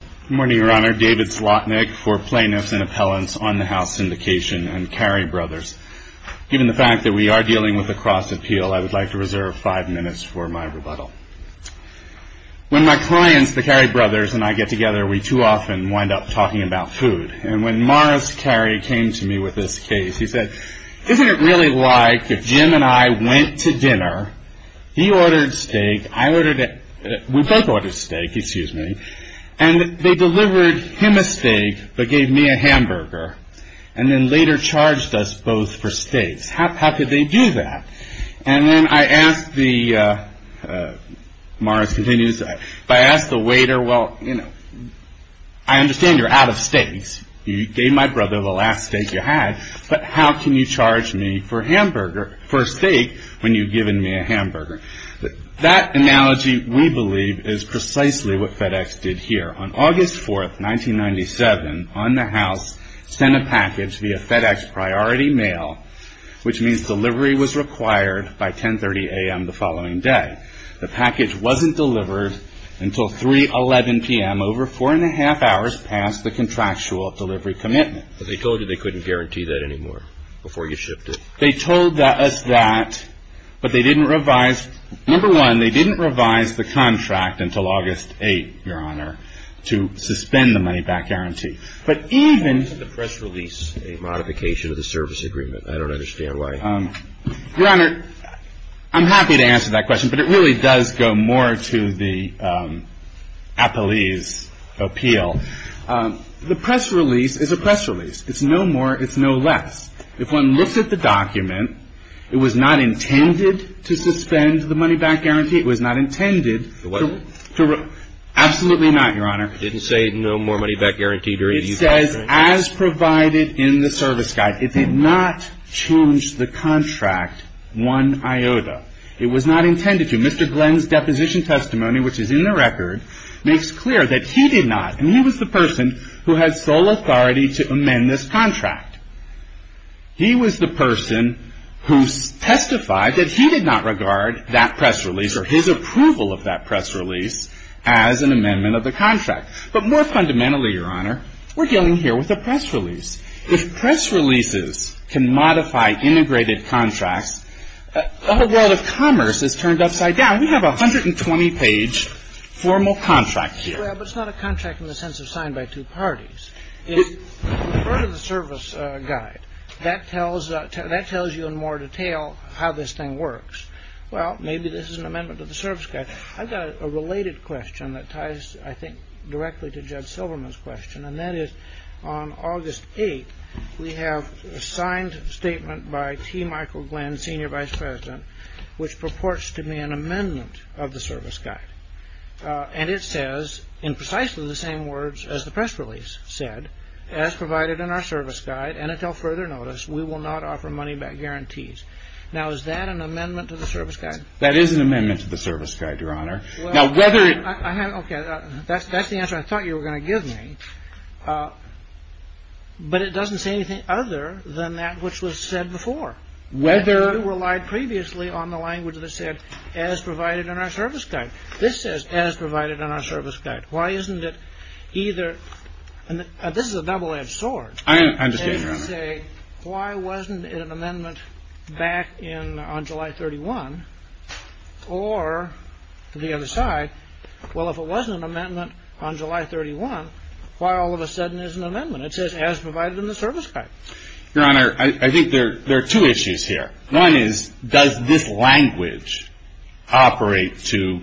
Good morning, Your Honor. David Slotnick for Plaintiffs and Appellants on the House Syndication and Carey Brothers. Given the fact that we are dealing with a cross-appeal, I would like to reserve five minutes for my rebuttal. When my clients, the Carey Brothers, and I get together, we too often wind up talking about food. And when Morris Carey came to me with this case, he said, Isn't it really like if Jim and I went to dinner, he ordered steak, we both ordered steak, excuse me, and they delivered him a steak but gave me a hamburger, and then later charged us both for steaks? How could they do that? And then I asked the, Morris continues, I asked the waiter, well, you know, I understand you're out of steaks. You gave my brother the last steak you had, but how can you charge me for a steak when you've given me a hamburger? That analogy, we believe, is precisely what FedEx did here. On August 4, 1997, On the House sent a package via FedEx Priority Mail, which means delivery was required by 10.30 a.m. the following day. The package wasn't delivered until 3.11 p.m., over four and a half hours past the contractual delivery commitment. But they told you they couldn't guarantee that anymore before you shipped it? They told us that, but they didn't revise, number one, they didn't revise the contract until August 8, Your Honor, to suspend the money-back guarantee. But even... Why didn't the press release a modification of the service agreement? I don't understand why. Your Honor, I'm happy to answer that question, but it really does go more to the appellee's appeal. The press release is a press release. It's no more, it's no less. If one looks at the document, it was not intended to suspend the money-back guarantee. It was not intended to... It wasn't? Absolutely not, Your Honor. It says, as provided in the service guide, it did not change the contract one iota. It was not intended to. Mr. Glenn's deposition testimony, which is in the record, makes clear that he did not, and he was the person who had sole authority to amend this contract. He was the person who testified that he did not regard that press release, or his approval of that press release, as an amendment of the contract. But more fundamentally, Your Honor, we're dealing here with a press release. If press releases can modify integrated contracts, the whole world of commerce is turned upside down. We have a 120-page formal contract here. Well, but it's not a contract in the sense of signed by two parties. In part of the service guide, that tells you in more detail how this thing works. Well, maybe this is an amendment to the service guide. I've got a related question that ties, I think, directly to Judge Silverman's question, and that is, on August 8th, we have a signed statement by T. Michael Glenn, Senior Vice President, which purports to be an amendment of the service guide. And it says, in precisely the same words as the press release said, as provided in our service guide and until further notice, we will not offer money-back guarantees. Now, is that an amendment to the service guide? That is an amendment to the service guide, Your Honor. Now, whether it- Okay. That's the answer I thought you were going to give me. But it doesn't say anything other than that which was said before. Whether- You relied previously on the language that said, as provided in our service guide. This says, as provided in our service guide. Why isn't it either- This is a double-edged sword. I understand, Your Honor. Why wasn't it an amendment back on July 31? Or, to the other side, well, if it wasn't an amendment on July 31, why all of a sudden is it an amendment? It says, as provided in the service guide. Your Honor, I think there are two issues here. One is, does this language operate to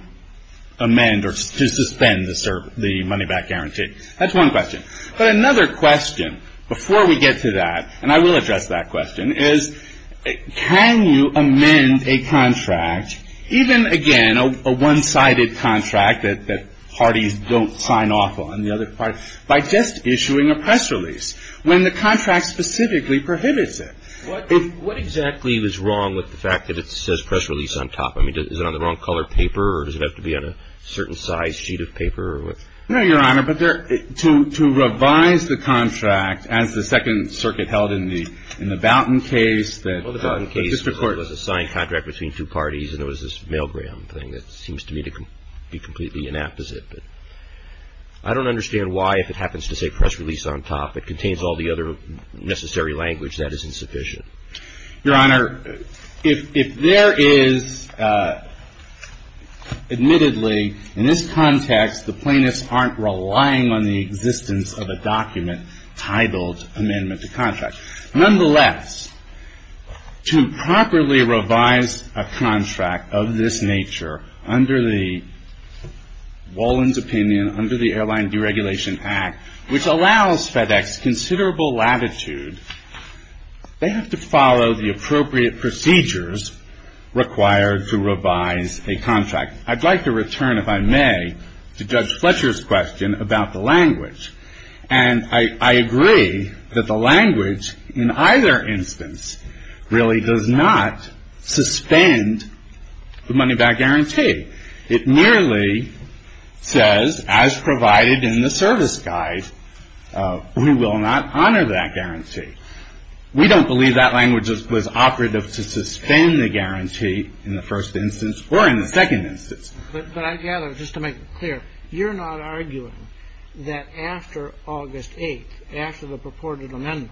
amend or to suspend the money-back guarantee? That's one question. But another question, before we get to that, and I will address that question, is can you amend a contract, even, again, a one-sided contract that parties don't sign off on, the other parties, by just issuing a press release when the contract specifically prohibits it? What exactly is wrong with the fact that it says press release on top? I mean, is it on the wrong color paper, or does it have to be on a certain size sheet of paper, or what? No, Your Honor, but to revise the contract, as the Second Circuit held in the Boughton case, that the district court was a signed contract between two parties, and there was this mail-gram thing that seems to me to be completely inapposite. But I don't understand why, if it happens to say press release on top, it contains all the other necessary language that is insufficient. Your Honor, if there is, admittedly, in this context, the plaintiffs aren't relying on the existence of a document titled Amendment to Contract. Nonetheless, to properly revise a contract of this nature under the Wallin's opinion, under the Airline Deregulation Act, which allows FedEx considerable latitude, they have to follow the appropriate procedures required to revise a contract. I'd like to return, if I may, to Judge Fletcher's question about the language. And I agree that the language in either instance really does not suspend the money-back guarantee. It merely says, as provided in the service guide, we will not honor that guarantee. We don't believe that language was operative to suspend the guarantee in the first instance or in the second instance. But I gather, just to make it clear, you're not arguing that after August 8th, after the purported amendment,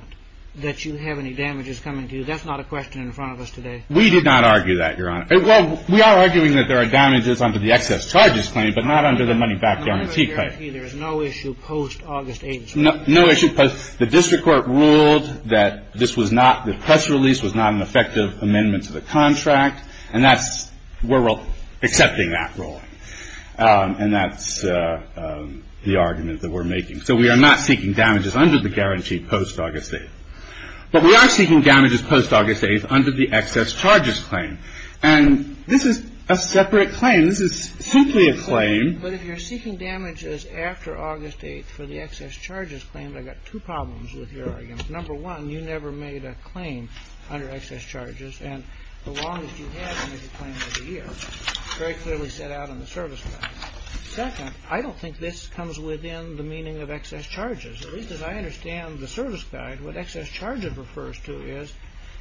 that you have any damages coming to you? That's not a question in front of us today. We did not argue that, Your Honor. Well, we are arguing that there are damages under the excess charges claim, but not under the money-back guarantee claim. Under the guarantee, there is no issue post-August 8th, Your Honor? No issue. The district court ruled that this was not, the press release was not an effective amendment to the contract. And that's, we're accepting that ruling. And that's the argument that we're making. So we are not seeking damages under the guarantee post-August 8th. But we are seeking damages post-August 8th under the excess charges claim. And this is a separate claim. This is simply a claim. But if you're seeking damages after August 8th for the excess charges claim, I've got two problems with your argument. Number one, you never made a claim under excess charges. And the longest you had to make a claim was a year. It's very clearly set out in the service guide. Second, I don't think this comes within the meaning of excess charges. At least as I understand the service guide, what excess charges refers to is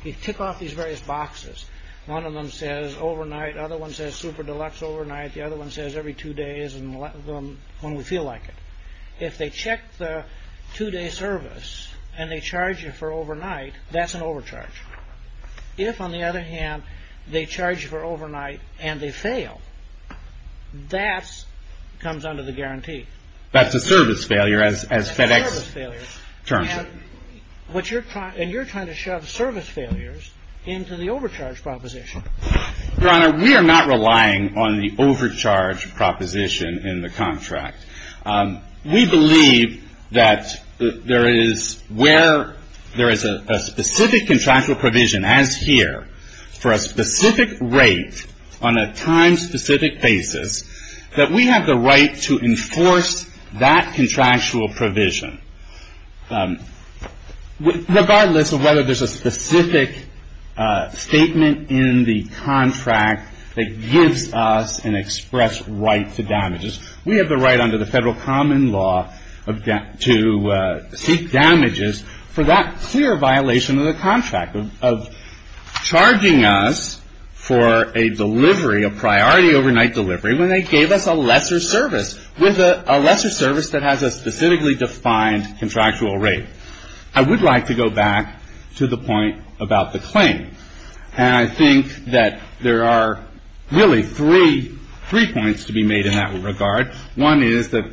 you tick off these various boxes. One of them says overnight. The other one says super deluxe overnight. The other one says every two days when we feel like it. If they check the two-day service and they charge you for overnight, that's an overcharge. If, on the other hand, they charge you for overnight and they fail, that comes under the guarantee. That's a service failure as FedEx terms it. And you're trying to shove service failures into the overcharge proposition. Your Honor, we are not relying on the overcharge proposition in the contract. We believe that there is where there is a specific contractual provision, as here, for a specific rate on a time-specific basis, that we have the right to enforce that contractual provision. Regardless of whether there's a specific statement in the contract that gives us an express right to damages, we have the right under the federal common law to seek damages for that clear violation of the contract, of charging us for a delivery, a priority overnight delivery, when they gave us a lesser service, with a lesser service that has a specifically defined contractual rate. I would like to go back to the point about the claim. And I think that there are really three points to be made in that regard. One is that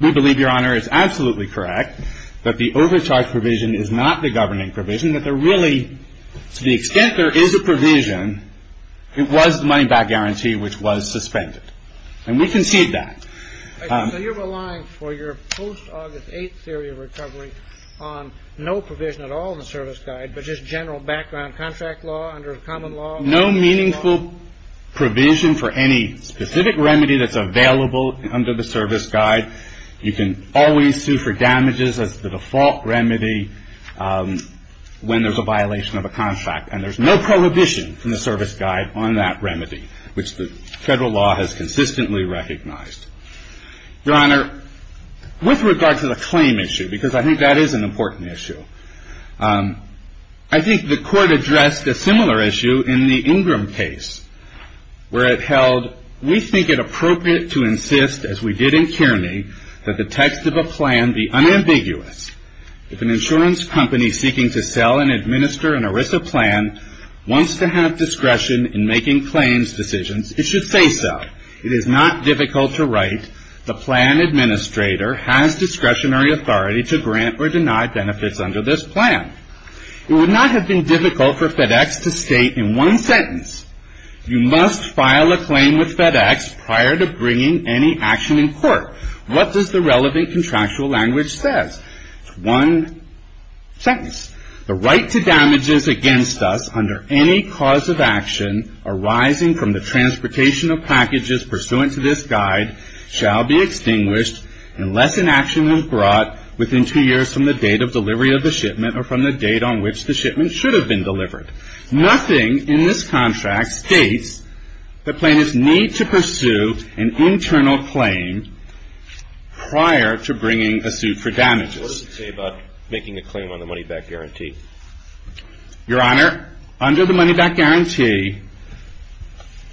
we believe, Your Honor, it's absolutely correct that the overcharge provision is not the governing provision, that there really, to the extent there is a provision, it was the money-back guarantee which was suspended. And we concede that. So you're relying for your post-August 8th theory of recovery on no provision at all in the service guide, but just general background contract law under the common law? No meaningful provision for any specific remedy that's available under the service guide. You can always sue for damages as the default remedy when there's a violation of a contract. And there's no prohibition from the service guide on that remedy, which the federal law has consistently recognized. Your Honor, with regard to the claim issue, because I think that is an important issue, I think the Court addressed a similar issue in the Ingram case, where it held, we think it appropriate to insist, as we did in Kearney, that the text of a plan be unambiguous. If an insurance company seeking to sell and administer an ERISA plan wants to have discretion in making claims decisions, it should say so. It is not difficult to write, the plan administrator has discretionary authority to grant or deny benefits under this plan. It would not have been difficult for FedEx to state in one sentence, you must file a claim with FedEx prior to bringing any action in court. What does the relevant contractual language say? One sentence. The right to damages against us under any cause of action arising from the transportation of packages pursuant to this guide shall be extinguished unless an action was brought within two years from the date of delivery of the shipment or from the date on which the shipment should have been delivered. Nothing in this contract states that plaintiffs need to pursue an internal claim prior to bringing a suit for damages. What does it say about making a claim on the money-back guarantee? Your Honor, under the money-back guarantee,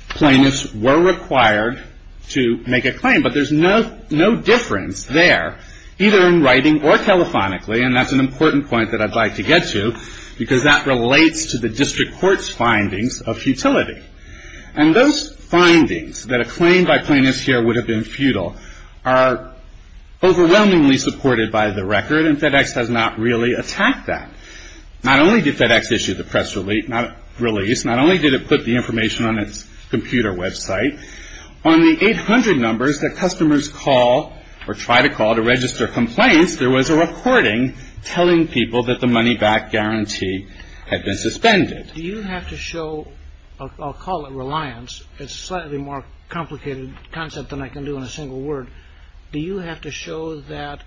plaintiffs were required to make a claim, but there's no difference there, either in writing or telephonically, and that's an important point that I'd like to get to, because that relates to the district court's findings of futility. And those findings, that a claim by plaintiffs here would have been futile, are overwhelmingly supported by the record, and FedEx does not really attack that. Not only did FedEx issue the press release, not only did it put the information on its computer website, on the 800 numbers that customers call or try to call to register complaints, there was a recording telling people that the money-back guarantee had been suspended. Do you have to show, I'll call it reliance, it's a slightly more complicated concept than I can do in a single word, do you have to show that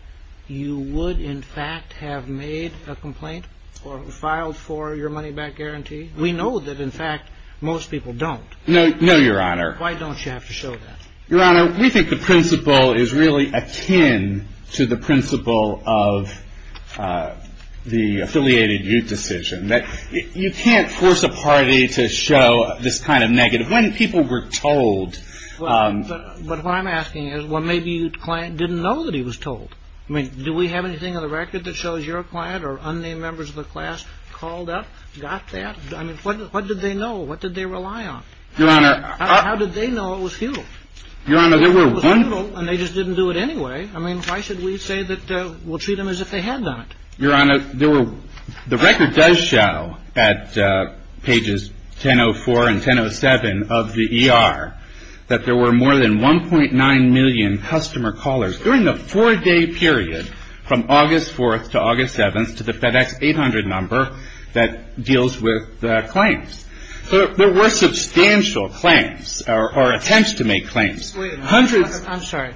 you would, in fact, have made a complaint or filed for your money-back guarantee? We know that, in fact, most people don't. No, Your Honor. Why don't you have to show that? Your Honor, we think the principle is really akin to the principle of the affiliated youth decision, that you can't force a party to show this kind of negative. When people were told... But what I'm asking is, well, maybe the client didn't know that he was told. I mean, do we have anything on the record that shows your client or unnamed members of the class called up, got that? I mean, what did they know? What did they rely on? Your Honor, I... How did they know it was futile? Your Honor, there were one... It was futile, and they just didn't do it anyway. I mean, why should we say that we'll treat them as if they had not? Your Honor, there were... The record does show at pages 1004 and 1007 of the ER that there were more than 1.9 million customer callers during the four-day period from August 4th to August 7th to the FedEx 800 number that deals with the claims. There were substantial claims or attempts to make claims. Wait a minute. Hundreds... I'm sorry.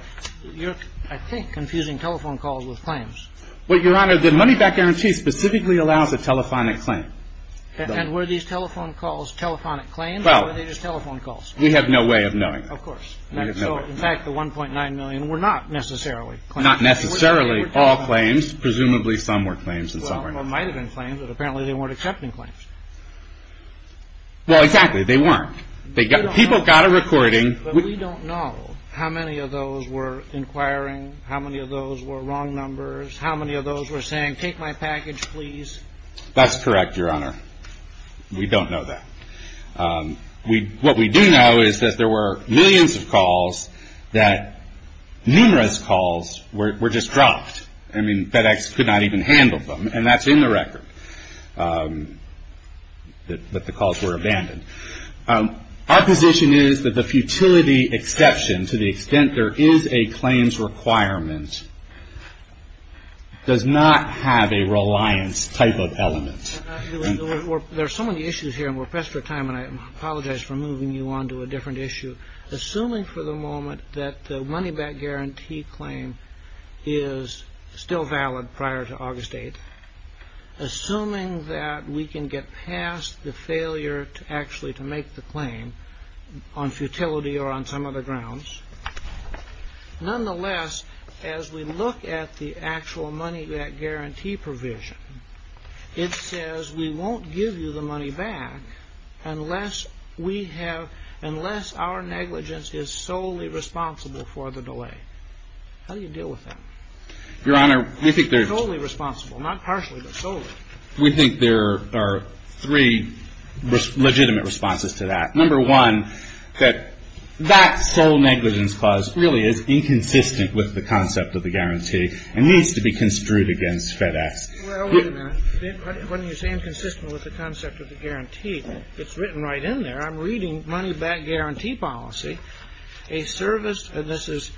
You're, I think, confusing telephone calls with claims. Well, Your Honor, the money-back guarantee specifically allows a telephonic claim. And were these telephone calls telephonic claims, or were they just telephone calls? Well, we have no way of knowing. Of course. We have no way. In fact, the 1.9 million were not necessarily claims. Not necessarily all claims. Presumably some were claims and some weren't. Well, there might have been claims, but apparently they weren't accepting claims. Well, exactly. They weren't. People got a recording. But we don't know how many of those were inquiring, how many of those were wrong numbers, how many of those were saying, take my package, please. That's correct, Your Honor. We don't know that. What we do know is that there were millions of calls that numerous calls were just dropped. I mean, FedEx could not even handle them, and that's in the record, that the calls were abandoned. Our position is that the futility exception, to the extent there is a claims requirement, does not have a reliance type of element. There are so many issues here, and we're pressed for time, and I apologize for moving you on to a different issue. Assuming for the moment that the money-back guarantee claim is still valid prior to August 8th, assuming that we can get past the failure actually to make the claim on futility or on some other grounds, nonetheless, as we look at the actual money-back guarantee provision, it says we won't give you the money back unless we have, unless our negligence is solely responsible for the delay. How do you deal with that? Your Honor, we think there's... Solely responsible, not partially, but solely. We think there are three legitimate responses to that. Number one, that that sole negligence clause really is inconsistent with the concept of the guarantee and needs to be construed against FedEx. Well, wait a minute. When you say inconsistent with the concept of the guarantee, it's written right in there. I'm reading money-back guarantee policy. A service, and this is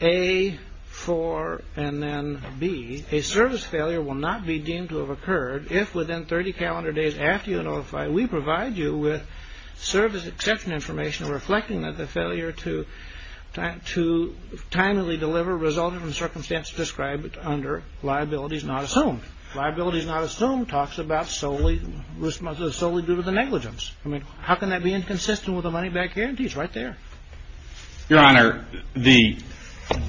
A, 4, and then B, a service failure will not be deemed to have occurred if within 30 calendar days after you notify, we provide you with service exception information reflecting that the failure to timely deliver resulted from circumstances described under liabilities not assumed. Liabilities not assumed talks about solely due to the negligence. I mean, how can that be inconsistent with the money-back guarantee? It's right there. Your Honor, the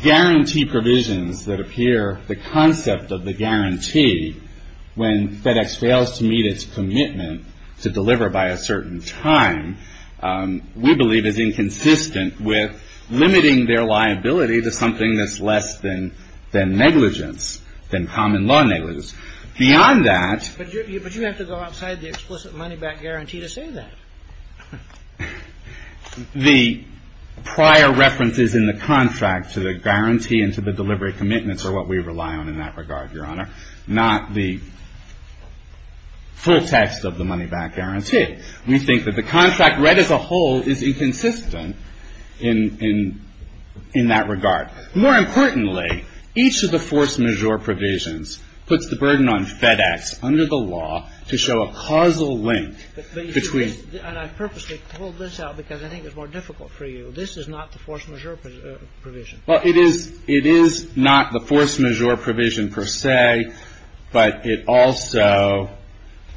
guarantee provisions that appear, the concept of the guarantee, when FedEx fails to meet its commitment to deliver by a certain time, we believe is inconsistent with limiting their liability to something that's less than negligence, than common law negligence. Beyond that... But you have to go outside the explicit money-back guarantee to say that. The prior references in the contract to the guarantee and to the delivery commitments are what we rely on in that regard, Your Honor. Not the full text of the money-back guarantee. We think that the contract read as a whole is inconsistent in that regard. More importantly, each of the force majeure provisions puts the burden on FedEx, under the law, to show a causal link between... And I purposely pulled this out because I think it's more difficult for you. This is not the force majeure provision. Well, it is not the force majeure provision per se, but it also,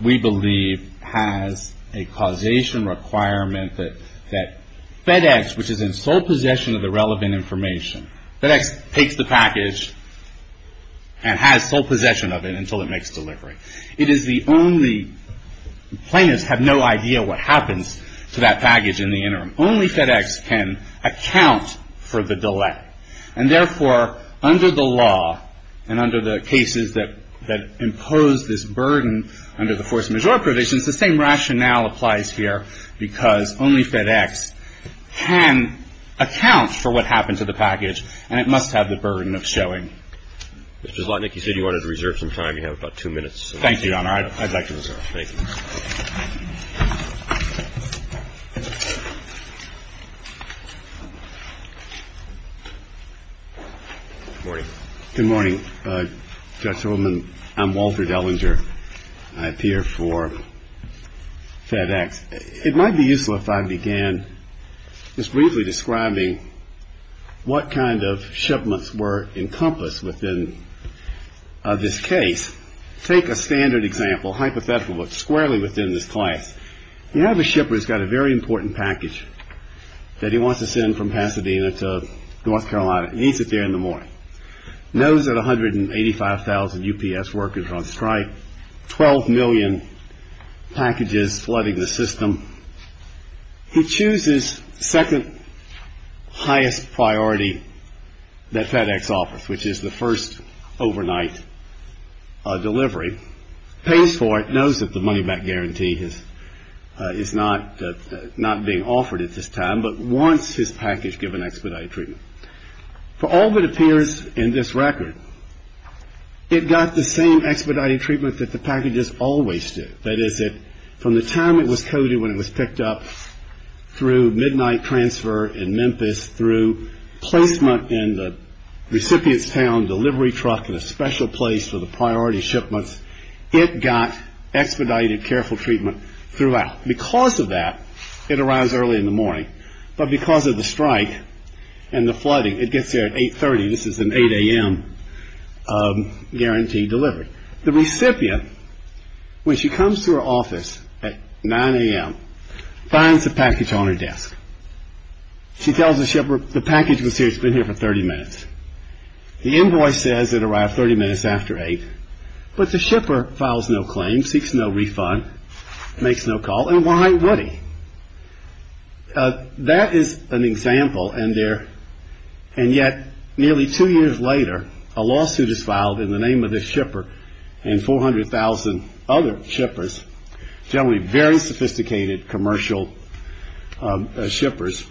we believe, has a causation requirement that FedEx, which is in sole possession of the relevant information, FedEx takes the package and has sole possession of it until it makes delivery. It is the only... Plaintiffs have no idea what happens to that package in the interim. Only FedEx can account for the delay. And therefore, under the law and under the cases that impose this burden under the force majeure provisions, the same rationale applies here because only FedEx can account for what happened to the package and it must have the burden of showing. Mr. Zlotnick, you said you wanted to reserve some time. You have about two minutes. Thank you, Your Honor. I'd like to reserve. Thank you. Good morning. Good morning, Judge Holdman. I'm Walter Dellinger. I appear for FedEx. It might be useful if I began just briefly describing what kind of shipments were encompassed within this case. Let's take a standard example, hypothetical, but squarely within this class. You have a shipper who's got a very important package that he wants to send from Pasadena to North Carolina. He needs it there in the morning. Knows that 185,000 UPS workers are on strike, 12 million packages flooding the system. He chooses second highest priority that FedEx offers, which is the first overnight delivery. Pays for it. Knows that the money back guarantee is not being offered at this time, but wants his package given expedited treatment. For all that appears in this record, it got the same expedited treatment that the packages always do. That is, from the time it was coded when it was picked up through midnight transfer in Memphis, through placement in the recipient's town delivery truck in a special place for the priority shipments, it got expedited careful treatment throughout. Because of that, it arrives early in the morning. But because of the strike and the flooding, it gets there at 8.30. This is an 8 a.m. guarantee delivered. The recipient, when she comes to her office at 9 a.m., finds the package on her desk. She tells the shipper the package was here, it's been here for 30 minutes. The invoice says it arrived 30 minutes after 8, but the shipper files no claim, seeks no refund, makes no call, and why would he? That is an example, and yet nearly two years later, a lawsuit is filed in the name of this shipper and 400,000 other shippers, generally very sophisticated commercial shippers,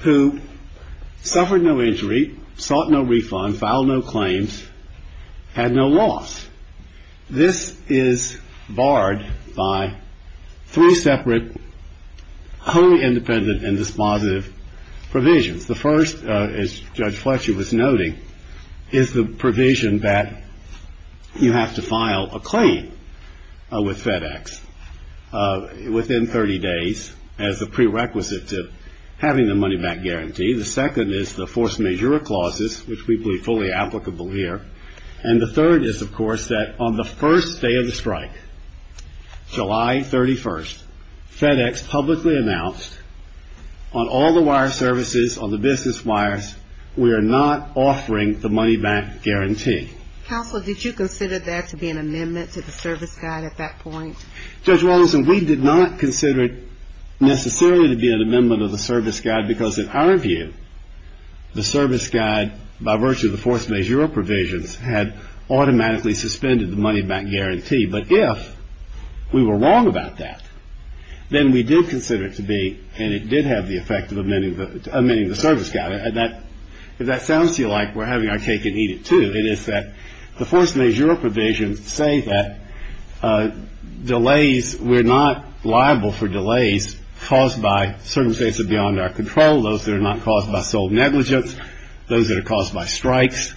who suffered no injury, sought no refund, filed no claims, had no loss. This is barred by three separate wholly independent and dispositive provisions. The first, as Judge Fletcher was noting, is the provision that you have to file a claim with FedEx within 30 days as a prerequisite to having the money-back guarantee. The second is the force majeure clauses, which we believe fully applicable here. And the third is, of course, that on the first day of the strike, July 31st, FedEx publicly announced on all the wire services, on the business wires, we are not offering the money-back guarantee. Counsel, did you consider that to be an amendment to the service guide at that point? Judge Wallinson, we did not consider it necessarily to be an amendment of the service guide because, in our view, the service guide, by virtue of the force majeure provisions, had automatically suspended the money-back guarantee. But if we were wrong about that, then we do consider it to be, and it did have the effect of amending the service guide. If that sounds to you like we're having our cake and eat it too, it is that the force majeure provisions say that delays, we're not liable for delays caused by circumstances beyond our control, those that are not caused by sole negligence, those that are caused by strikes.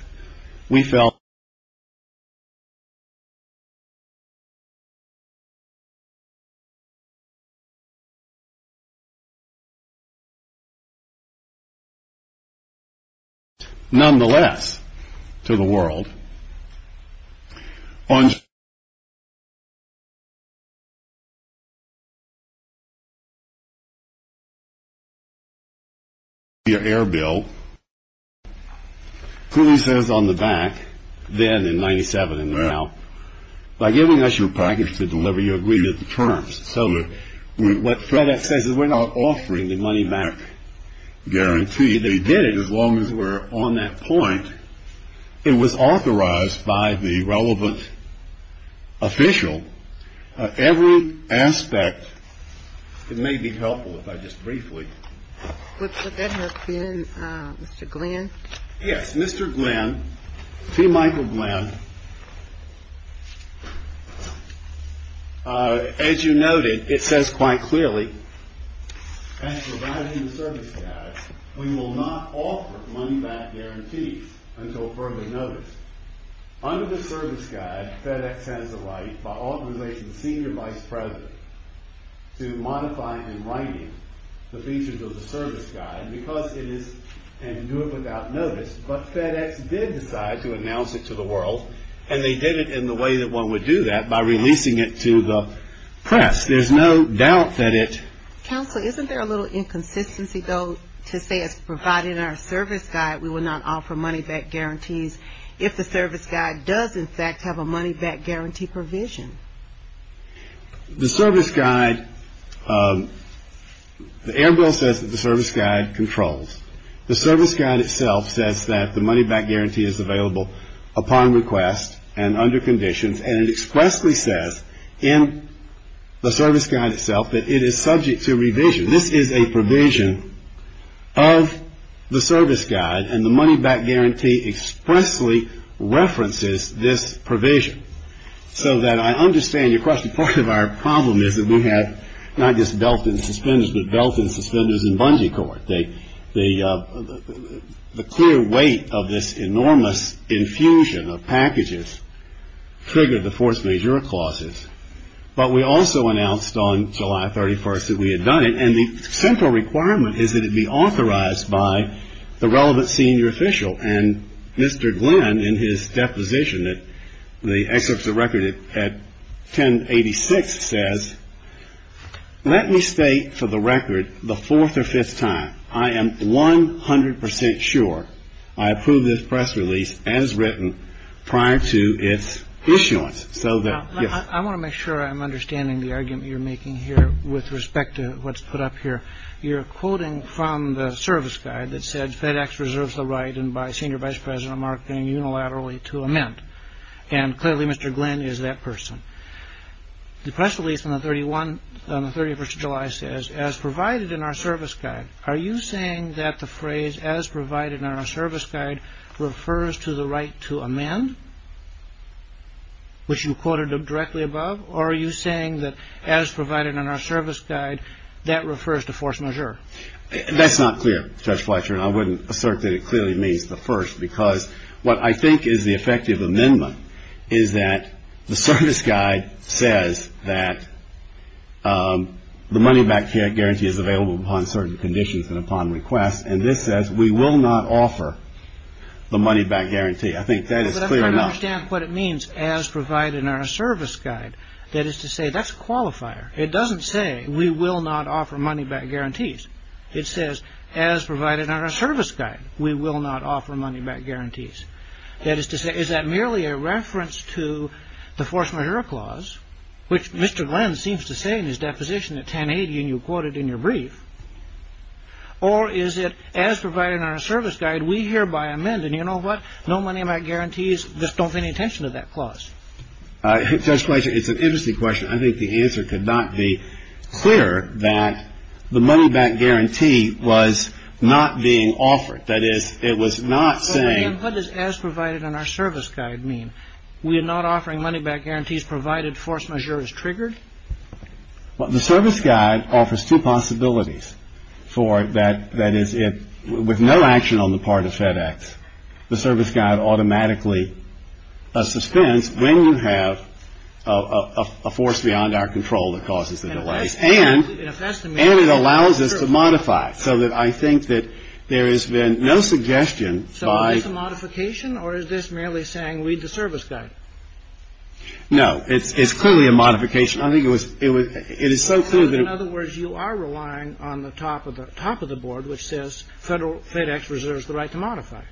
Nonetheless, to the world, on July 31st, the air bill clearly says on the back, then in 97 and now, by giving us your package to deliver, you agreed to the terms. So what FedEx says is we're not offering the money-back guarantee. They did it as long as we're on that point. It was authorized by the relevant official. Every aspect, it may be helpful if I just briefly. Would that help you, Mr. Glenn? Yes, Mr. Glenn, T. Michael Glenn. As you noted, it says quite clearly, as provided in the service guide, we will not offer money-back guarantees until further notice. Under the service guide, FedEx has the right by authorizing the senior vice president to modify in writing the features of the service guide because it is, and do it without notice, but FedEx did decide to announce it to the world, and they did it in the way that one would do that, by releasing it to the press. There's no doubt that it. Counsel, isn't there a little inconsistency, though, to say as provided in our service guide, we will not offer money-back guarantees if the service guide does, in fact, have a money-back guarantee provision? The service guide, the air bill says that the service guide controls. The service guide itself says that the money-back guarantee is available upon request and under conditions, and it expressly says in the service guide itself that it is subject to revision. This is a provision of the service guide, and the money-back guarantee expressly references this provision, so that I understand your question. Part of our problem is that we have not just belt and suspenders, but belt and suspenders and bungee cord. The clear weight of this enormous infusion of packages triggered the force majeure clauses, but we also announced on July 31st that we had done it, and the central requirement is that it be authorized by the relevant senior official, and Mr. Glenn, in his deposition, the excerpts of record at 1086, says, let me state for the record the fourth or fifth time I am 100 percent sure I approve this press release as written prior to its issuance. I want to make sure I'm understanding the argument you're making here with respect to what's put up here. You're quoting from the service guide that said FedEx reserves the right, and by Senior Vice President Mark, being unilaterally to amend, and clearly Mr. Glenn is that person. The press release on the 31st of July says, as provided in our service guide, Are you saying that the phrase, as provided in our service guide, refers to the right to amend, which you quoted directly above, or are you saying that, as provided in our service guide, that refers to force majeure? That's not clear, Judge Fletcher, and I wouldn't assert that it clearly means the first, because what I think is the effective amendment is that the service guide says that the money back guarantee is available on certain conditions and upon request, and this says we will not offer the money back guarantee. I think that is clear enough. Let's try to understand what it means, as provided in our service guide. That is to say, that's a qualifier. It doesn't say we will not offer money back guarantees. It says, as provided in our service guide, we will not offer money back guarantees. That is to say, is that merely a reference to the force majeure clause, which Mr. Glenn seems to say in his deposition at 1080 and you quoted in your brief, or is it, as provided in our service guide, we hereby amend, and you know what? No money back guarantees. Just don't pay any attention to that clause. Judge Fletcher, it's an interesting question. I think the answer could not be clearer that the money back guarantee was not being offered. That is, it was not saying... Well, again, what does as provided in our service guide mean? We are not offering money back guarantees, provided force majeure is triggered? Well, the service guide offers two possibilities for that. That is, with no action on the part of FedEx, the service guide automatically suspends when you have a force beyond our control that causes the delays. And it allows us to modify it, so that I think that there has been no suggestion by... No, it's clearly a modification. I think it was so clear that... In other words, you are relying on the top of the board, which says Federal FedEx reserves the right to modify.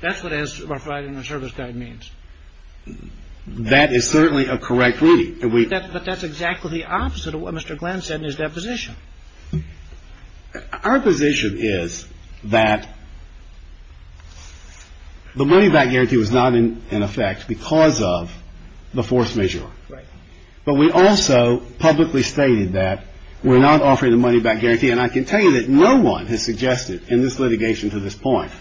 That's what as provided in our service guide means. That is certainly a correct reading. But that's exactly the opposite of what Mr. Glenn said in his deposition. Our position is that the money back guarantee was not in effect because of the force majeure. But we also publicly stated that we're not offering the money back guarantee. And I can tell you that no one has suggested in this litigation to this point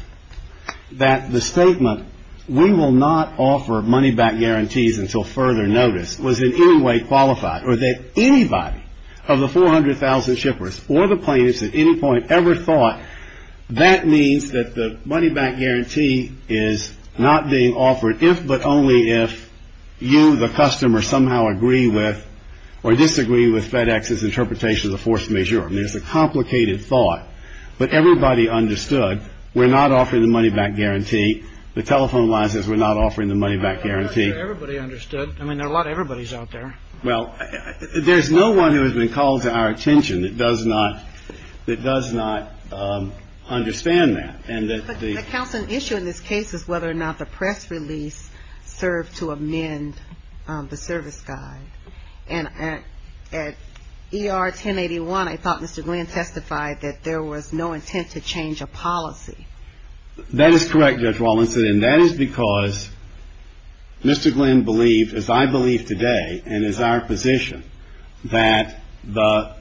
that the statement, we will not offer money back guarantees until further notice, was in any way qualified. Or that anybody of the 400,000 shippers or the plaintiffs at any point ever thought that means that the money back guarantee is not being offered if but only if you, the customer, somehow agree with or disagree with FedEx's interpretation of the force majeure. I mean, it's a complicated thought. But everybody understood we're not offering the money back guarantee. The telephone line says we're not offering the money back guarantee. Everybody understood. I mean, a lot of everybody's out there. Well, there's no one who has been called to our attention that does not understand that. But the counseling issue in this case is whether or not the press release served to amend the service guide. And at ER 1081, I thought Mr. Glenn testified that there was no intent to change a policy. That is correct, Judge Rawlinson. And that is because Mr. Glenn believed, as I believe today and as our position, that the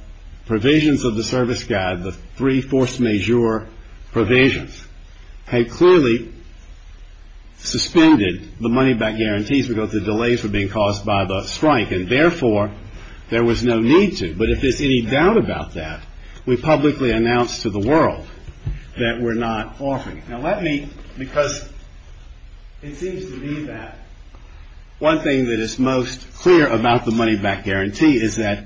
provisions of the service guide, the three force majeure provisions, had clearly suspended the money back guarantees because the delays were being caused by the strike. And therefore, there was no need to. But if there's any doubt about that, we publicly announced to the world that we're not offering it. Now, let me, because it seems to me that one thing that is most clear about the money back guarantee is that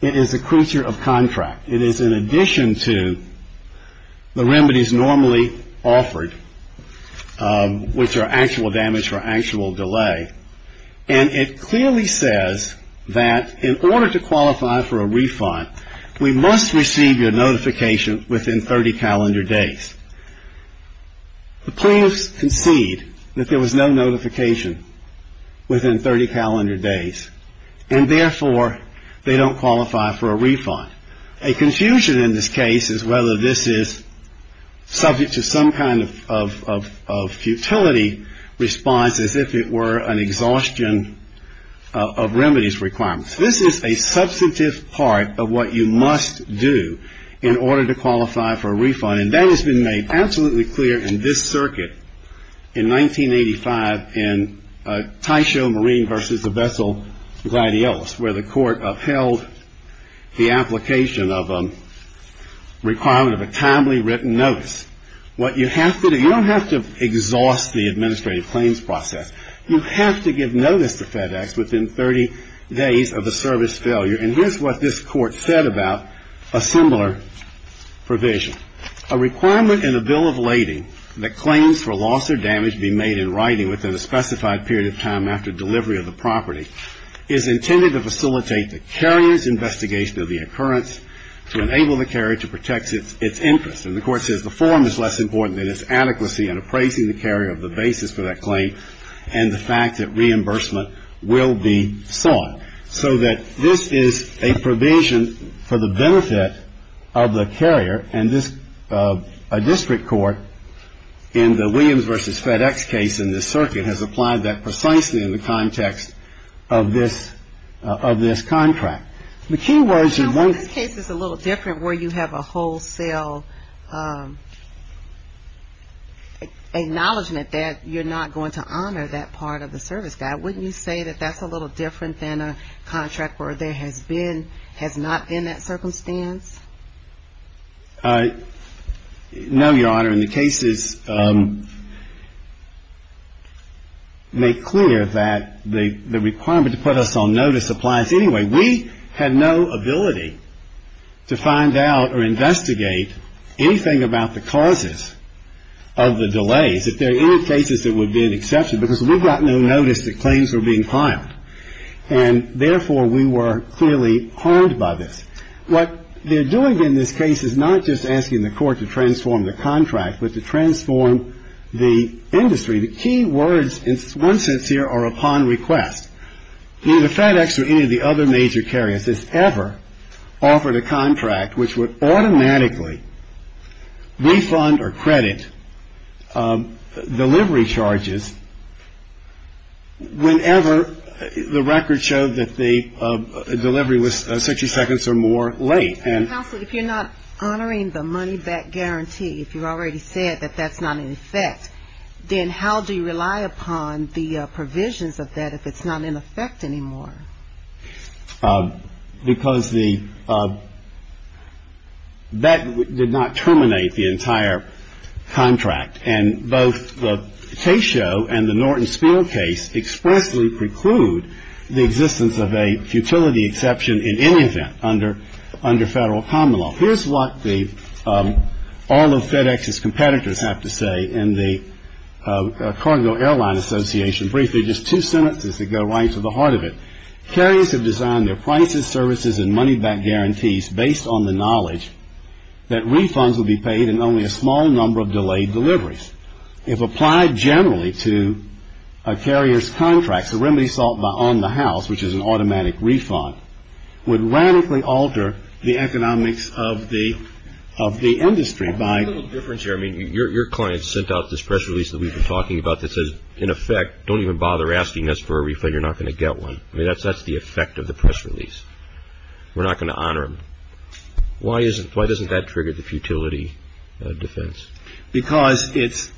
it is a creature of contract. It is in addition to the remedies normally offered, which are actual damage or actual delay. And it clearly says that in order to qualify for a refund, we must receive your notification within 30 calendar days. The plaintiffs concede that there was no notification within 30 calendar days. And therefore, they don't qualify for a refund. A confusion in this case is whether this is subject to some kind of futility response as if it were an exhaustion of remedies requirements. This is a substantive part of what you must do in order to qualify for a refund. And that has been made absolutely clear in this circuit in 1985 in Taisho Marine versus the Vessel Gladiolus, where the court upheld the application of a requirement of a timely written notice. What you have to do, you don't have to exhaust the administrative claims process. You have to give notice to FedEx within 30 days of a service failure. And here's what this court said about a similar provision. A requirement in a bill of lading that claims for loss or damage be made in writing within a specified period of time after delivery of the property is intended to facilitate the carrier's investigation of the occurrence to enable the carrier to protect its interest. And the court says the form is less important than its adequacy in appraising the carrier of the basis for that claim and the fact that reimbursement will be sought. So that this is a provision for the benefit of the carrier, and a district court in the Williams versus FedEx case in this circuit has applied that precisely in the context of this contract. The key words of this case is a little different where you have a wholesale acknowledgement that you're not going to honor that part of the service guide. Wouldn't you say that that's a little different than a contract where there has been has not been that circumstance? No, Your Honor, and the cases make clear that the requirement to put us on notice applies anyway. We had no ability to find out or investigate anything about the causes of the delays. If there are any cases that would be an exception, because we got no notice that claims were being filed, and therefore we were clearly harmed by this. What they're doing in this case is not just asking the court to transform the contract, but to transform the industry. The key words in one sense here are upon request. Neither FedEx or any of the other major carriers has ever offered a contract which would automatically refund or credit delivery charges whenever the record showed that the delivery was 60 seconds or more late. Counsel, if you're not honoring the money back guarantee, if you've already said that that's not in effect, then how do you rely upon the provisions of that if it's not in effect anymore? Because the bet did not terminate the entire contract, and both the Case Show and the Norton Spiel case expressly preclude the existence of a futility exception in any event under Federal common law. Here's what all of FedEx's competitors have to say in the Cargo Airline Association brief. They're just two sentences that go right to the heart of it. Carriers have designed their prices, services, and money back guarantees based on the knowledge that refunds will be paid in only a small number of delayed deliveries. If applied generally to a carrier's contracts, a remedy sought by on the house, which is an automatic refund, would radically alter the economics of the industry by I think there's a little difference here. I mean, your client sent out this press release that we've been talking about that says, in effect, don't even bother asking us for a refund, you're not going to get one. I mean, that's the effect of the press release. We're not going to honor them. Why doesn't that trigger the futility defense? Because this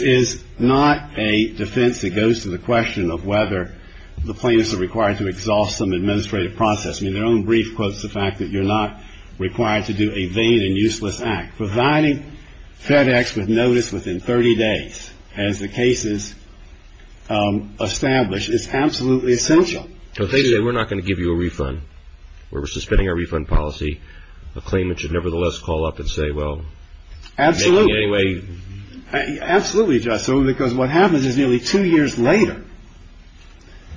is not a defense that goes to the question of whether the plaintiffs are required to exhaust some administrative process. I mean, their own brief quotes the fact that you're not required to do a vain and useless act. Providing FedEx with notice within 30 days, as the case is established, is absolutely essential. They say we're not going to give you a refund. We're suspending our refund policy. A claimant should, nevertheless, call up and say, well. Absolutely. In any way. Absolutely, Justice, because what happens is nearly two years later,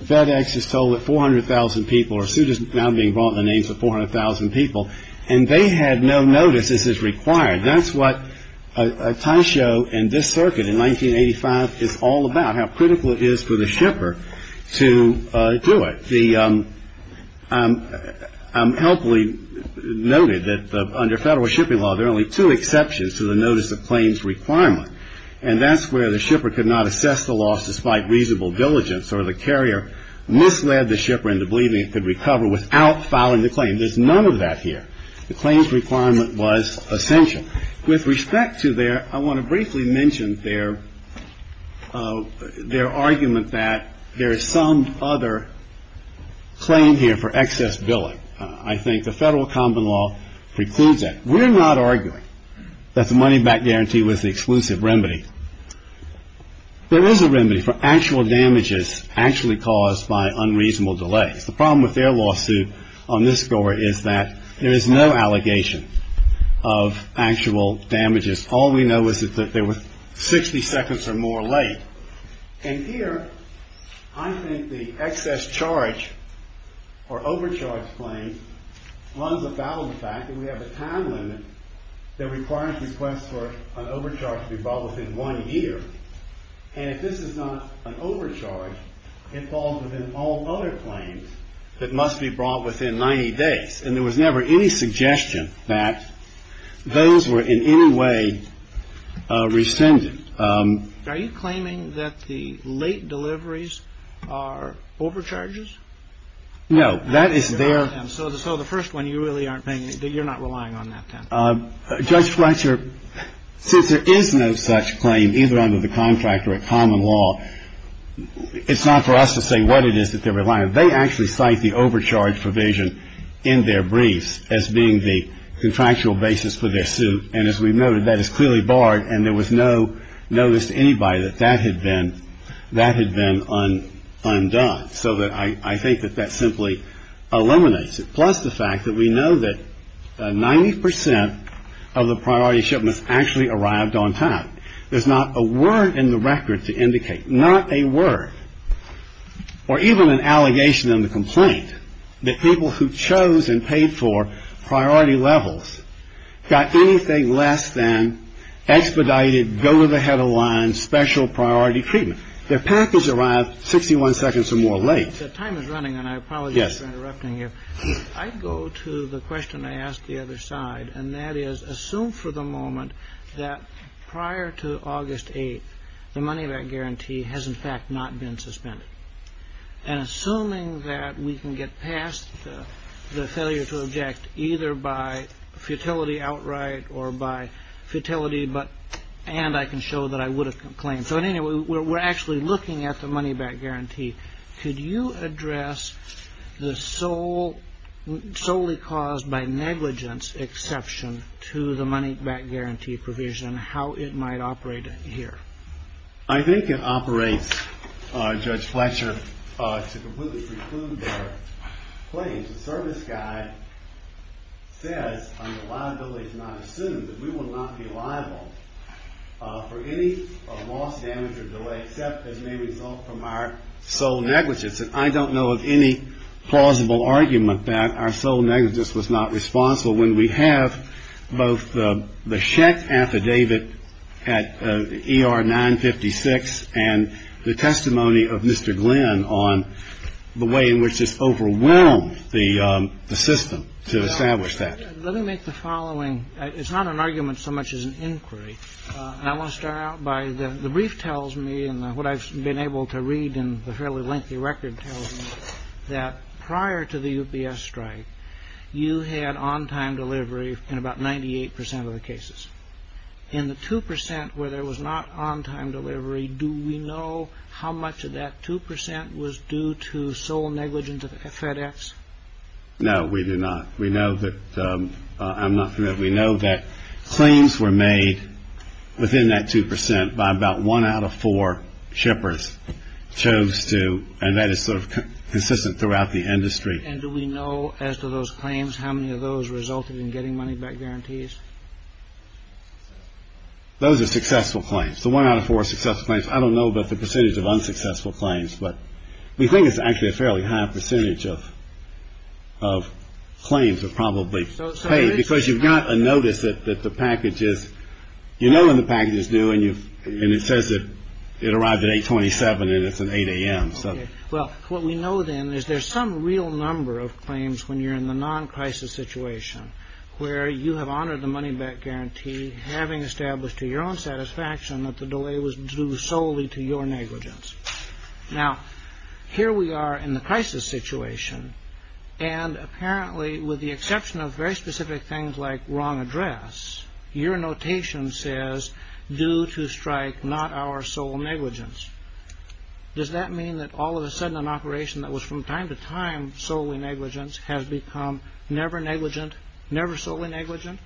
FedEx is told that 400,000 people or suit is now being brought in the names of 400,000 people, and they had no notice this is required. That's what a tie show in this circuit in 1985 is all about, how critical it is for the shipper to do it. I'm helpfully noted that under federal shipping law, there are only two exceptions to the notice of claims requirement. And that's where the shipper could not assess the loss despite reasonable diligence, or the carrier misled the shipper into believing it could recover without filing the claim. There's none of that here. The claims requirement was essential. With respect to their, I want to briefly mention their argument that there is some other claim here for excess billing. I think the federal common law precludes that. We're not arguing that the money back guarantee was the exclusive remedy. There is a remedy for actual damages actually caused by unreasonable delays. The problem with their lawsuit on this score is that there is no allegation of actual damages. All we know is that there were 60 seconds or more late. And here, I think the excess charge or overcharge claim runs about the fact that we have a time limit that requires requests for an overcharge to be filed within one year. And if this is not an overcharge, it falls within all other claims that must be brought within 90 days. And there was never any suggestion that those were in any way rescinded. Are you claiming that the late deliveries are overcharges? No. That is their. So the first one, you really aren't paying, you're not relying on that. Judge Fletcher, since there is no such claim either under the contract or at common law, it's not for us to say what it is that they're relying on. They actually cite the overcharge provision in their briefs as being the contractual basis for their suit. And as we noted, that is clearly barred. And there was no notice to anybody that that had been undone. So I think that that simply eliminates it. Plus the fact that we know that 90 percent of the priority shipments actually arrived on time. There's not a word in the record to indicate, not a word, or even an allegation in the complaint, that people who chose and paid for priority levels got anything less than expedited, go-to-the-head-of-the-line, special priority treatment. Their package arrived 61 seconds or more late. The time is running and I apologize for interrupting you. I go to the question I asked the other side, and that is assume for the moment that prior to August 8, the money back guarantee has in fact not been suspended. And assuming that we can get past the failure to object either by futility outright or by futility. And I can show that I would have complained. So anyway, we're actually looking at the money back guarantee. Could you address the solely caused by negligence exception to the money back guarantee provision, how it might operate here? I think it operates, Judge Fletcher, to completely preclude their claims. The service guide says on the liability to not assume that we will not be liable for any loss, damage, or delay, except as may result from our sole negligence. And I don't know of any plausible argument that our sole negligence was not responsible when we have both the check affidavit at ER 956 and the testimony of Mr. Glenn on the way in which this overwhelmed the system to establish that. Let me make the following. It's not an argument so much as an inquiry. I want to start out by the brief tells me and what I've been able to read in the fairly lengthy record that prior to the UPS strike, you had on-time delivery in about 98 percent of the cases. In the 2 percent where there was not on-time delivery, do we know how much of that 2 percent was due to sole negligence of FedEx? No, we do not. We know that claims were made within that 2 percent by about one out of four shippers chose to. And that is sort of consistent throughout the industry. And do we know as to those claims, how many of those resulted in getting money back guarantees? Those are successful claims. So one out of four successful claims. I don't know about the percentage of unsuccessful claims, but we think it's actually a fairly high percentage of of claims are probably paid because you've got a notice that the package is, you know, when the package is due and you and it says that it arrived at 827 and it's an 8 a.m. Well, what we know then is there's some real number of claims when you're in the non-crisis situation where you have honored the money back guarantee, having established to your own satisfaction that the delay was due solely to your negligence. Now, here we are in the crisis situation. And apparently, with the exception of very specific things like wrong address, your notation says due to strike, not our sole negligence. Does that mean that all of a sudden an operation that was from time to time solely negligence has become never negligent, never solely negligent?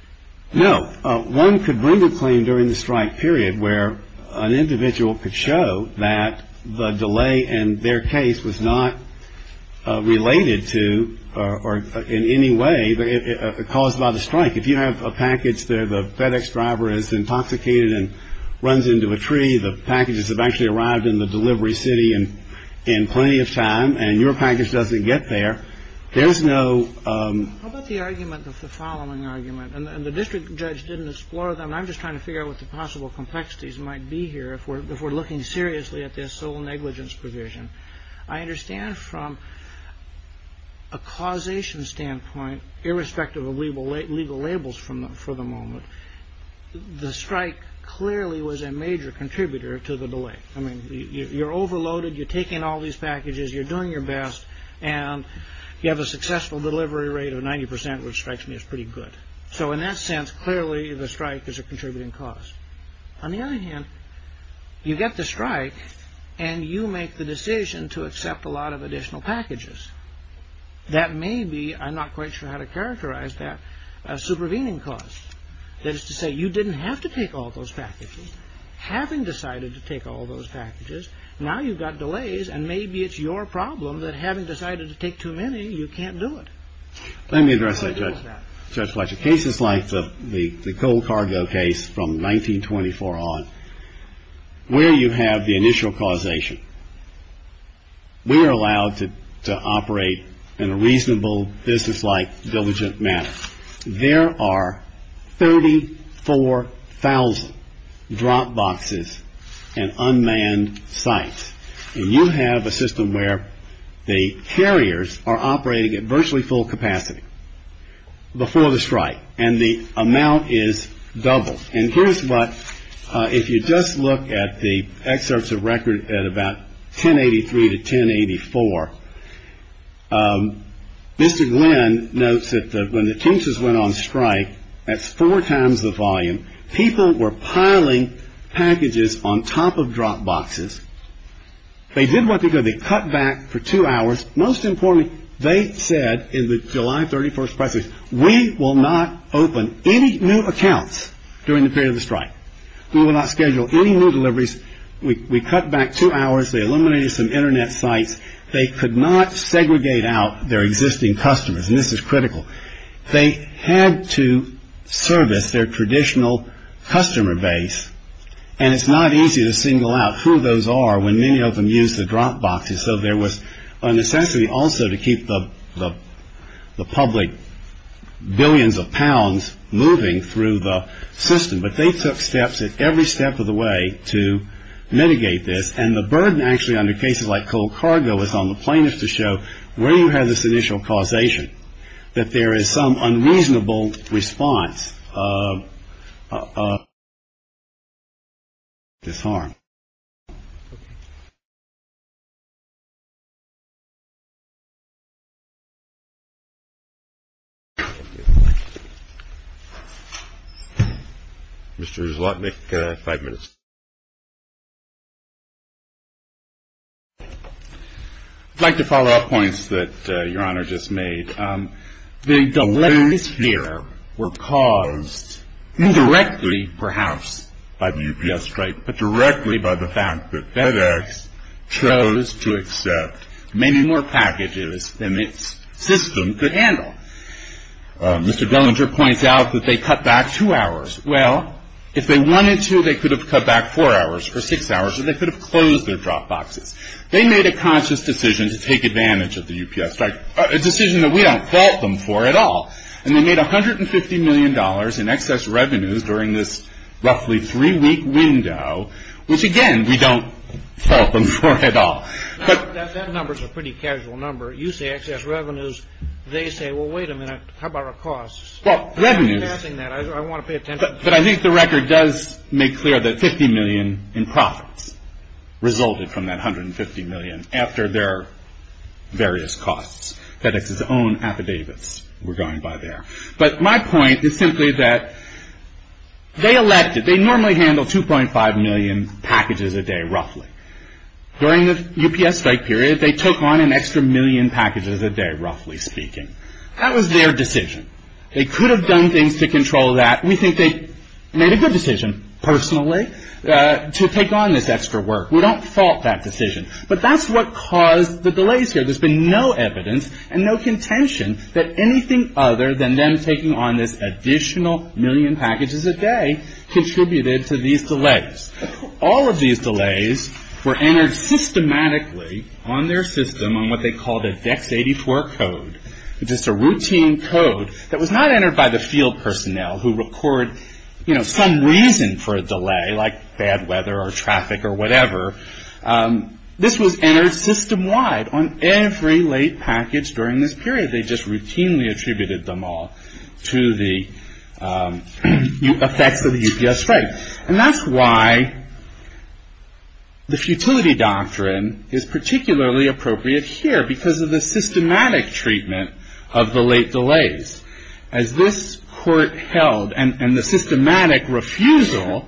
No. One could bring a claim during the strike period where an individual could show that the delay in their case was not related to or in any way caused by the strike. If you have a package there, the FedEx driver is intoxicated and runs into a tree. The packages have actually arrived in the delivery city and in plenty of time and your package doesn't get there. There's no argument of the following argument. And the district judge didn't explore them. I'm just trying to figure out what the possible complexities might be here if we're looking seriously at this sole negligence provision. I understand from a causation standpoint, irrespective of legal labels for the moment, the strike clearly was a major contributor to the delay. I mean, you're overloaded, you're taking all these packages, you're doing your best, and you have a successful delivery rate of 90%, which strikes me as pretty good. So in that sense, clearly the strike is a contributing cause. On the other hand, you get the strike and you make the decision to accept a lot of additional packages. That may be, I'm not quite sure how to characterize that, a supervening cause. That is to say, you didn't have to take all those packages. Having decided to take all those packages, now you've got delays and maybe it's your problem that having decided to take too many, you can't do it. Let me address that, Judge Fletcher. Cases like the coal cargo case from 1924 on, where you have the initial causation, we are allowed to operate in a reasonable, businesslike, diligent manner. There are 34,000 drop boxes and unmanned sites. And you have a system where the carriers are operating at virtually full capacity before the strike and the amount is doubled. And here's what, if you just look at the excerpts of record at about 1083 to 1084, Mr. They did what they could. They cut back for two hours. Most importantly, they said in the July 31st press release, we will not open any new accounts during the period of the strike. We will not schedule any new deliveries. We cut back two hours. They eliminated some Internet sites. They could not segregate out their existing customers. And this is critical. They had to service their traditional customer base. And it's not easy to single out who those are when many of them use the drop boxes. So there was a necessity also to keep the public billions of pounds moving through the system. But they took steps at every step of the way to mitigate this. And the burden actually under cases like cold cargo is on the plaintiffs to show where you have this initial causation, that there is some unreasonable response. This harm. Mr. Zlotnick, five minutes. I'd like to follow up points that Your Honor just made. The deliveries here were caused indirectly perhaps by the UPS strike, but directly by the fact that FedEx chose to accept many more packages than its system could handle. Mr. Dellinger points out that they cut back two hours. Well, if they wanted to, they could have cut back four hours or six hours, or they could have closed their drop boxes. They made a conscious decision to take advantage of the UPS strike, a decision that we don't fault them for at all. And they made $150 million in excess revenues during this roughly three-week window, which, again, we don't fault them for at all. That number's a pretty casual number. You say excess revenues. They say, well, wait a minute. How about our costs? Well, revenues. I'm passing that. I want to pay attention. But I think the record does make clear that $50 million in profits resulted from that $150 million after their various costs. FedEx's own affidavits were going by there. But my point is simply that they elected, they normally handle 2.5 million packages a day, roughly. During the UPS strike period, they took on an extra million packages a day, roughly speaking. That was their decision. They could have done things to control that. We think they made a good decision, personally, to take on this extra work. We don't fault that decision. But that's what caused the delays here. There's been no evidence and no contention that anything other than them taking on this additional million packages a day contributed to these delays. All of these delays were entered systematically on their system on what they called a VEX-84 code, which is a routine code that was not entered by the field personnel who record some reason for a delay, like bad weather or traffic or whatever. This was entered system-wide on every late package during this period. They just routinely attributed them all to the effects of the UPS strike. And that's why the futility doctrine is particularly appropriate here, because of the systematic treatment of the late delays. As this court held, and the systematic refusal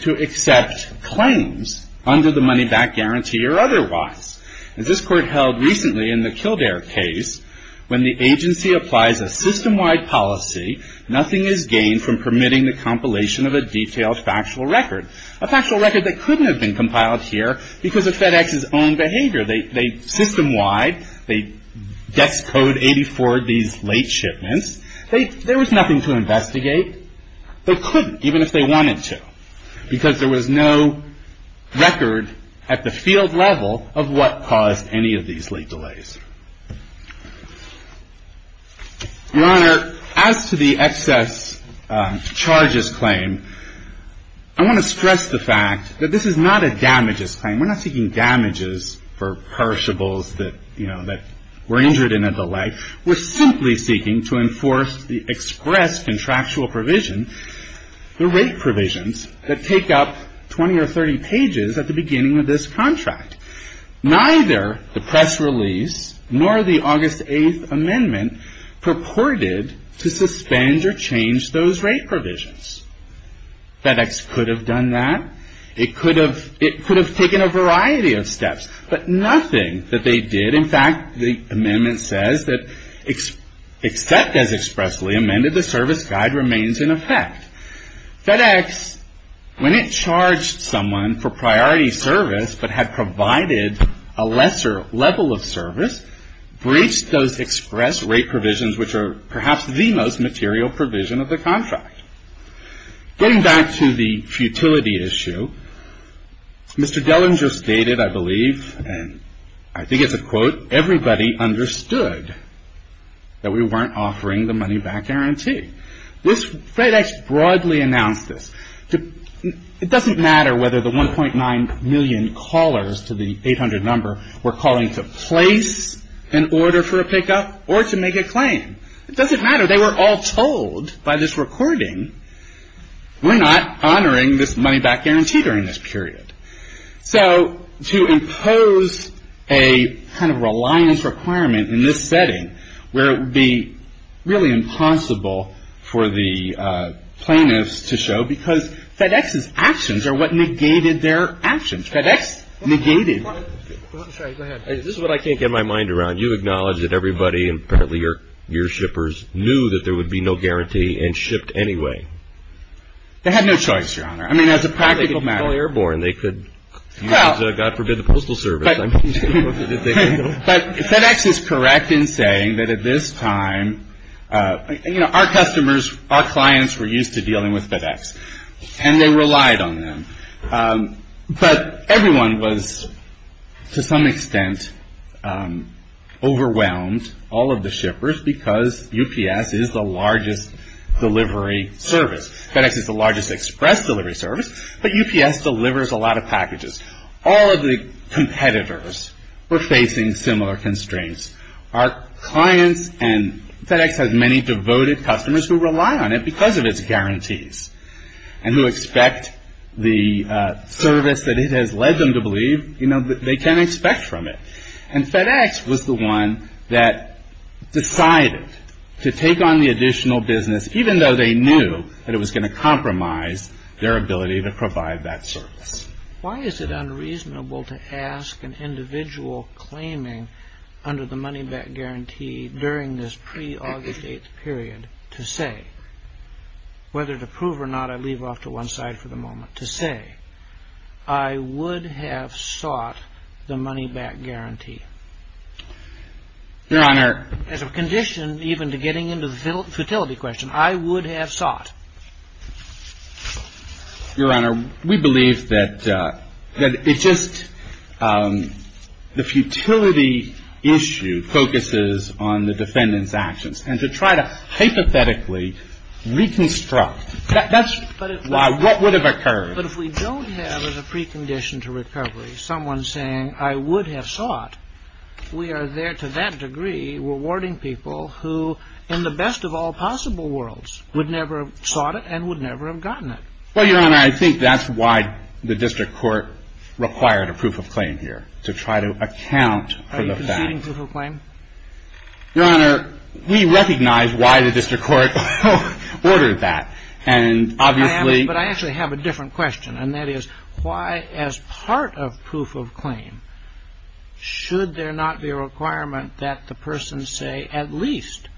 to accept claims under the money-back guarantee or otherwise, as this court held recently in the Kildare case, when the agency applies a system-wide policy, nothing is gained from permitting the compilation of a detailed factual record, a factual record that couldn't have been compiled here because of FedEx's own behavior. They system-wide, they VEX-code 84 these late shipments. There was nothing to investigate. They couldn't, even if they wanted to, because there was no record at the field level of what caused any of these late delays. Your Honor, as to the excess charges claim, I want to stress the fact that this is not a damages claim. We're not seeking damages for perishables that were injured in a delay. We're simply seeking to enforce the express contractual provision, the rate provisions that take up 20 or 30 pages at the beginning of this contract. Neither the press release nor the August 8th amendment purported to suspend or change those rate provisions. FedEx could have done that. It could have taken a variety of steps, but nothing that they did. In fact, the amendment says that except as expressly amended, the service guide remains in effect. FedEx, when it charged someone for priority service but had provided a lesser level of service, breached those express rate provisions, which are perhaps the most material provision of the contract. Getting back to the futility issue, Mr. Dellinger stated, I believe, and I think it's a quote, everybody understood that we weren't offering the money back guarantee. FedEx broadly announced this. It doesn't matter whether the 1.9 million callers to the 800 number were calling to place an order for a pickup or to make a claim. It doesn't matter. They were all told by this recording, we're not honoring this money back guarantee during this period. So to impose a kind of reliance requirement in this setting where it would be really impossible for the plaintiffs to show because FedEx's actions are what negated their actions. FedEx negated. This is what I can't get my mind around. You acknowledge that everybody, apparently your shippers, knew that there would be no guarantee and shipped anyway. They had no choice, Your Honor. I mean, as a practical matter. They could call Airborne. They could use, God forbid, the Postal Service. But FedEx is correct in saying that at this time, you know, our customers, our clients were used to dealing with FedEx. And they relied on them. But everyone was, to some extent, overwhelmed, all of the shippers, because UPS is the largest delivery service. FedEx is the largest express delivery service, but UPS delivers a lot of packages. All of the competitors were facing similar constraints. Our clients and FedEx has many devoted customers who rely on it because of its guarantees and who expect the service that it has led them to believe they can expect from it. And FedEx was the one that decided to take on the additional business, even though they knew that it was going to compromise their ability to provide that service. Why is it unreasonable to ask an individual claiming under the money-back guarantee during this pre-August 8th period to say, whether to prove or not I leave off to one side for the moment, to say, I would have sought the money-back guarantee? Your Honor. As a condition even to getting into the futility question, I would have sought. Your Honor, we believe that it's just the futility issue focuses on the defendant's actions. And to try to hypothetically reconstruct, that's why what would have occurred. But if we don't have as a precondition to recovery someone saying, I would have sought, we are there to that degree rewarding people who, in the best of all possible worlds, would never have sought it and would never have gotten it. Well, Your Honor, I think that's why the district court required a proof of claim here, to try to account for the fact. Are you conceding proof of claim? Your Honor, we recognize why the district court ordered that. But I actually have a different question. And that is, why, as part of proof of claim, should there not be a requirement that the person say, at least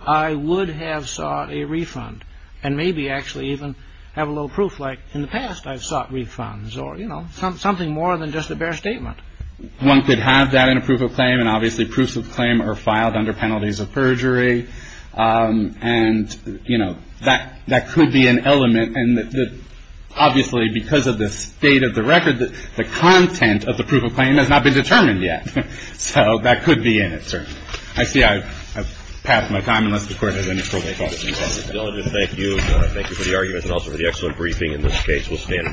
I would have sought a refund and maybe actually even have a little proof, like in the past I've sought refunds or, you know, something more than just a bare statement? One could have that in a proof of claim. And obviously proofs of claim are filed under penalties of perjury. And, you know, that could be an element. And obviously because of the state of the record, the content of the proof of claim has not been determined yet. So that could be in it, certainly. I see I've passed my time, unless the Court has any further questions. Thank you. Thank you for the argument and also for the excellent briefing. In this case, we'll stand and recess.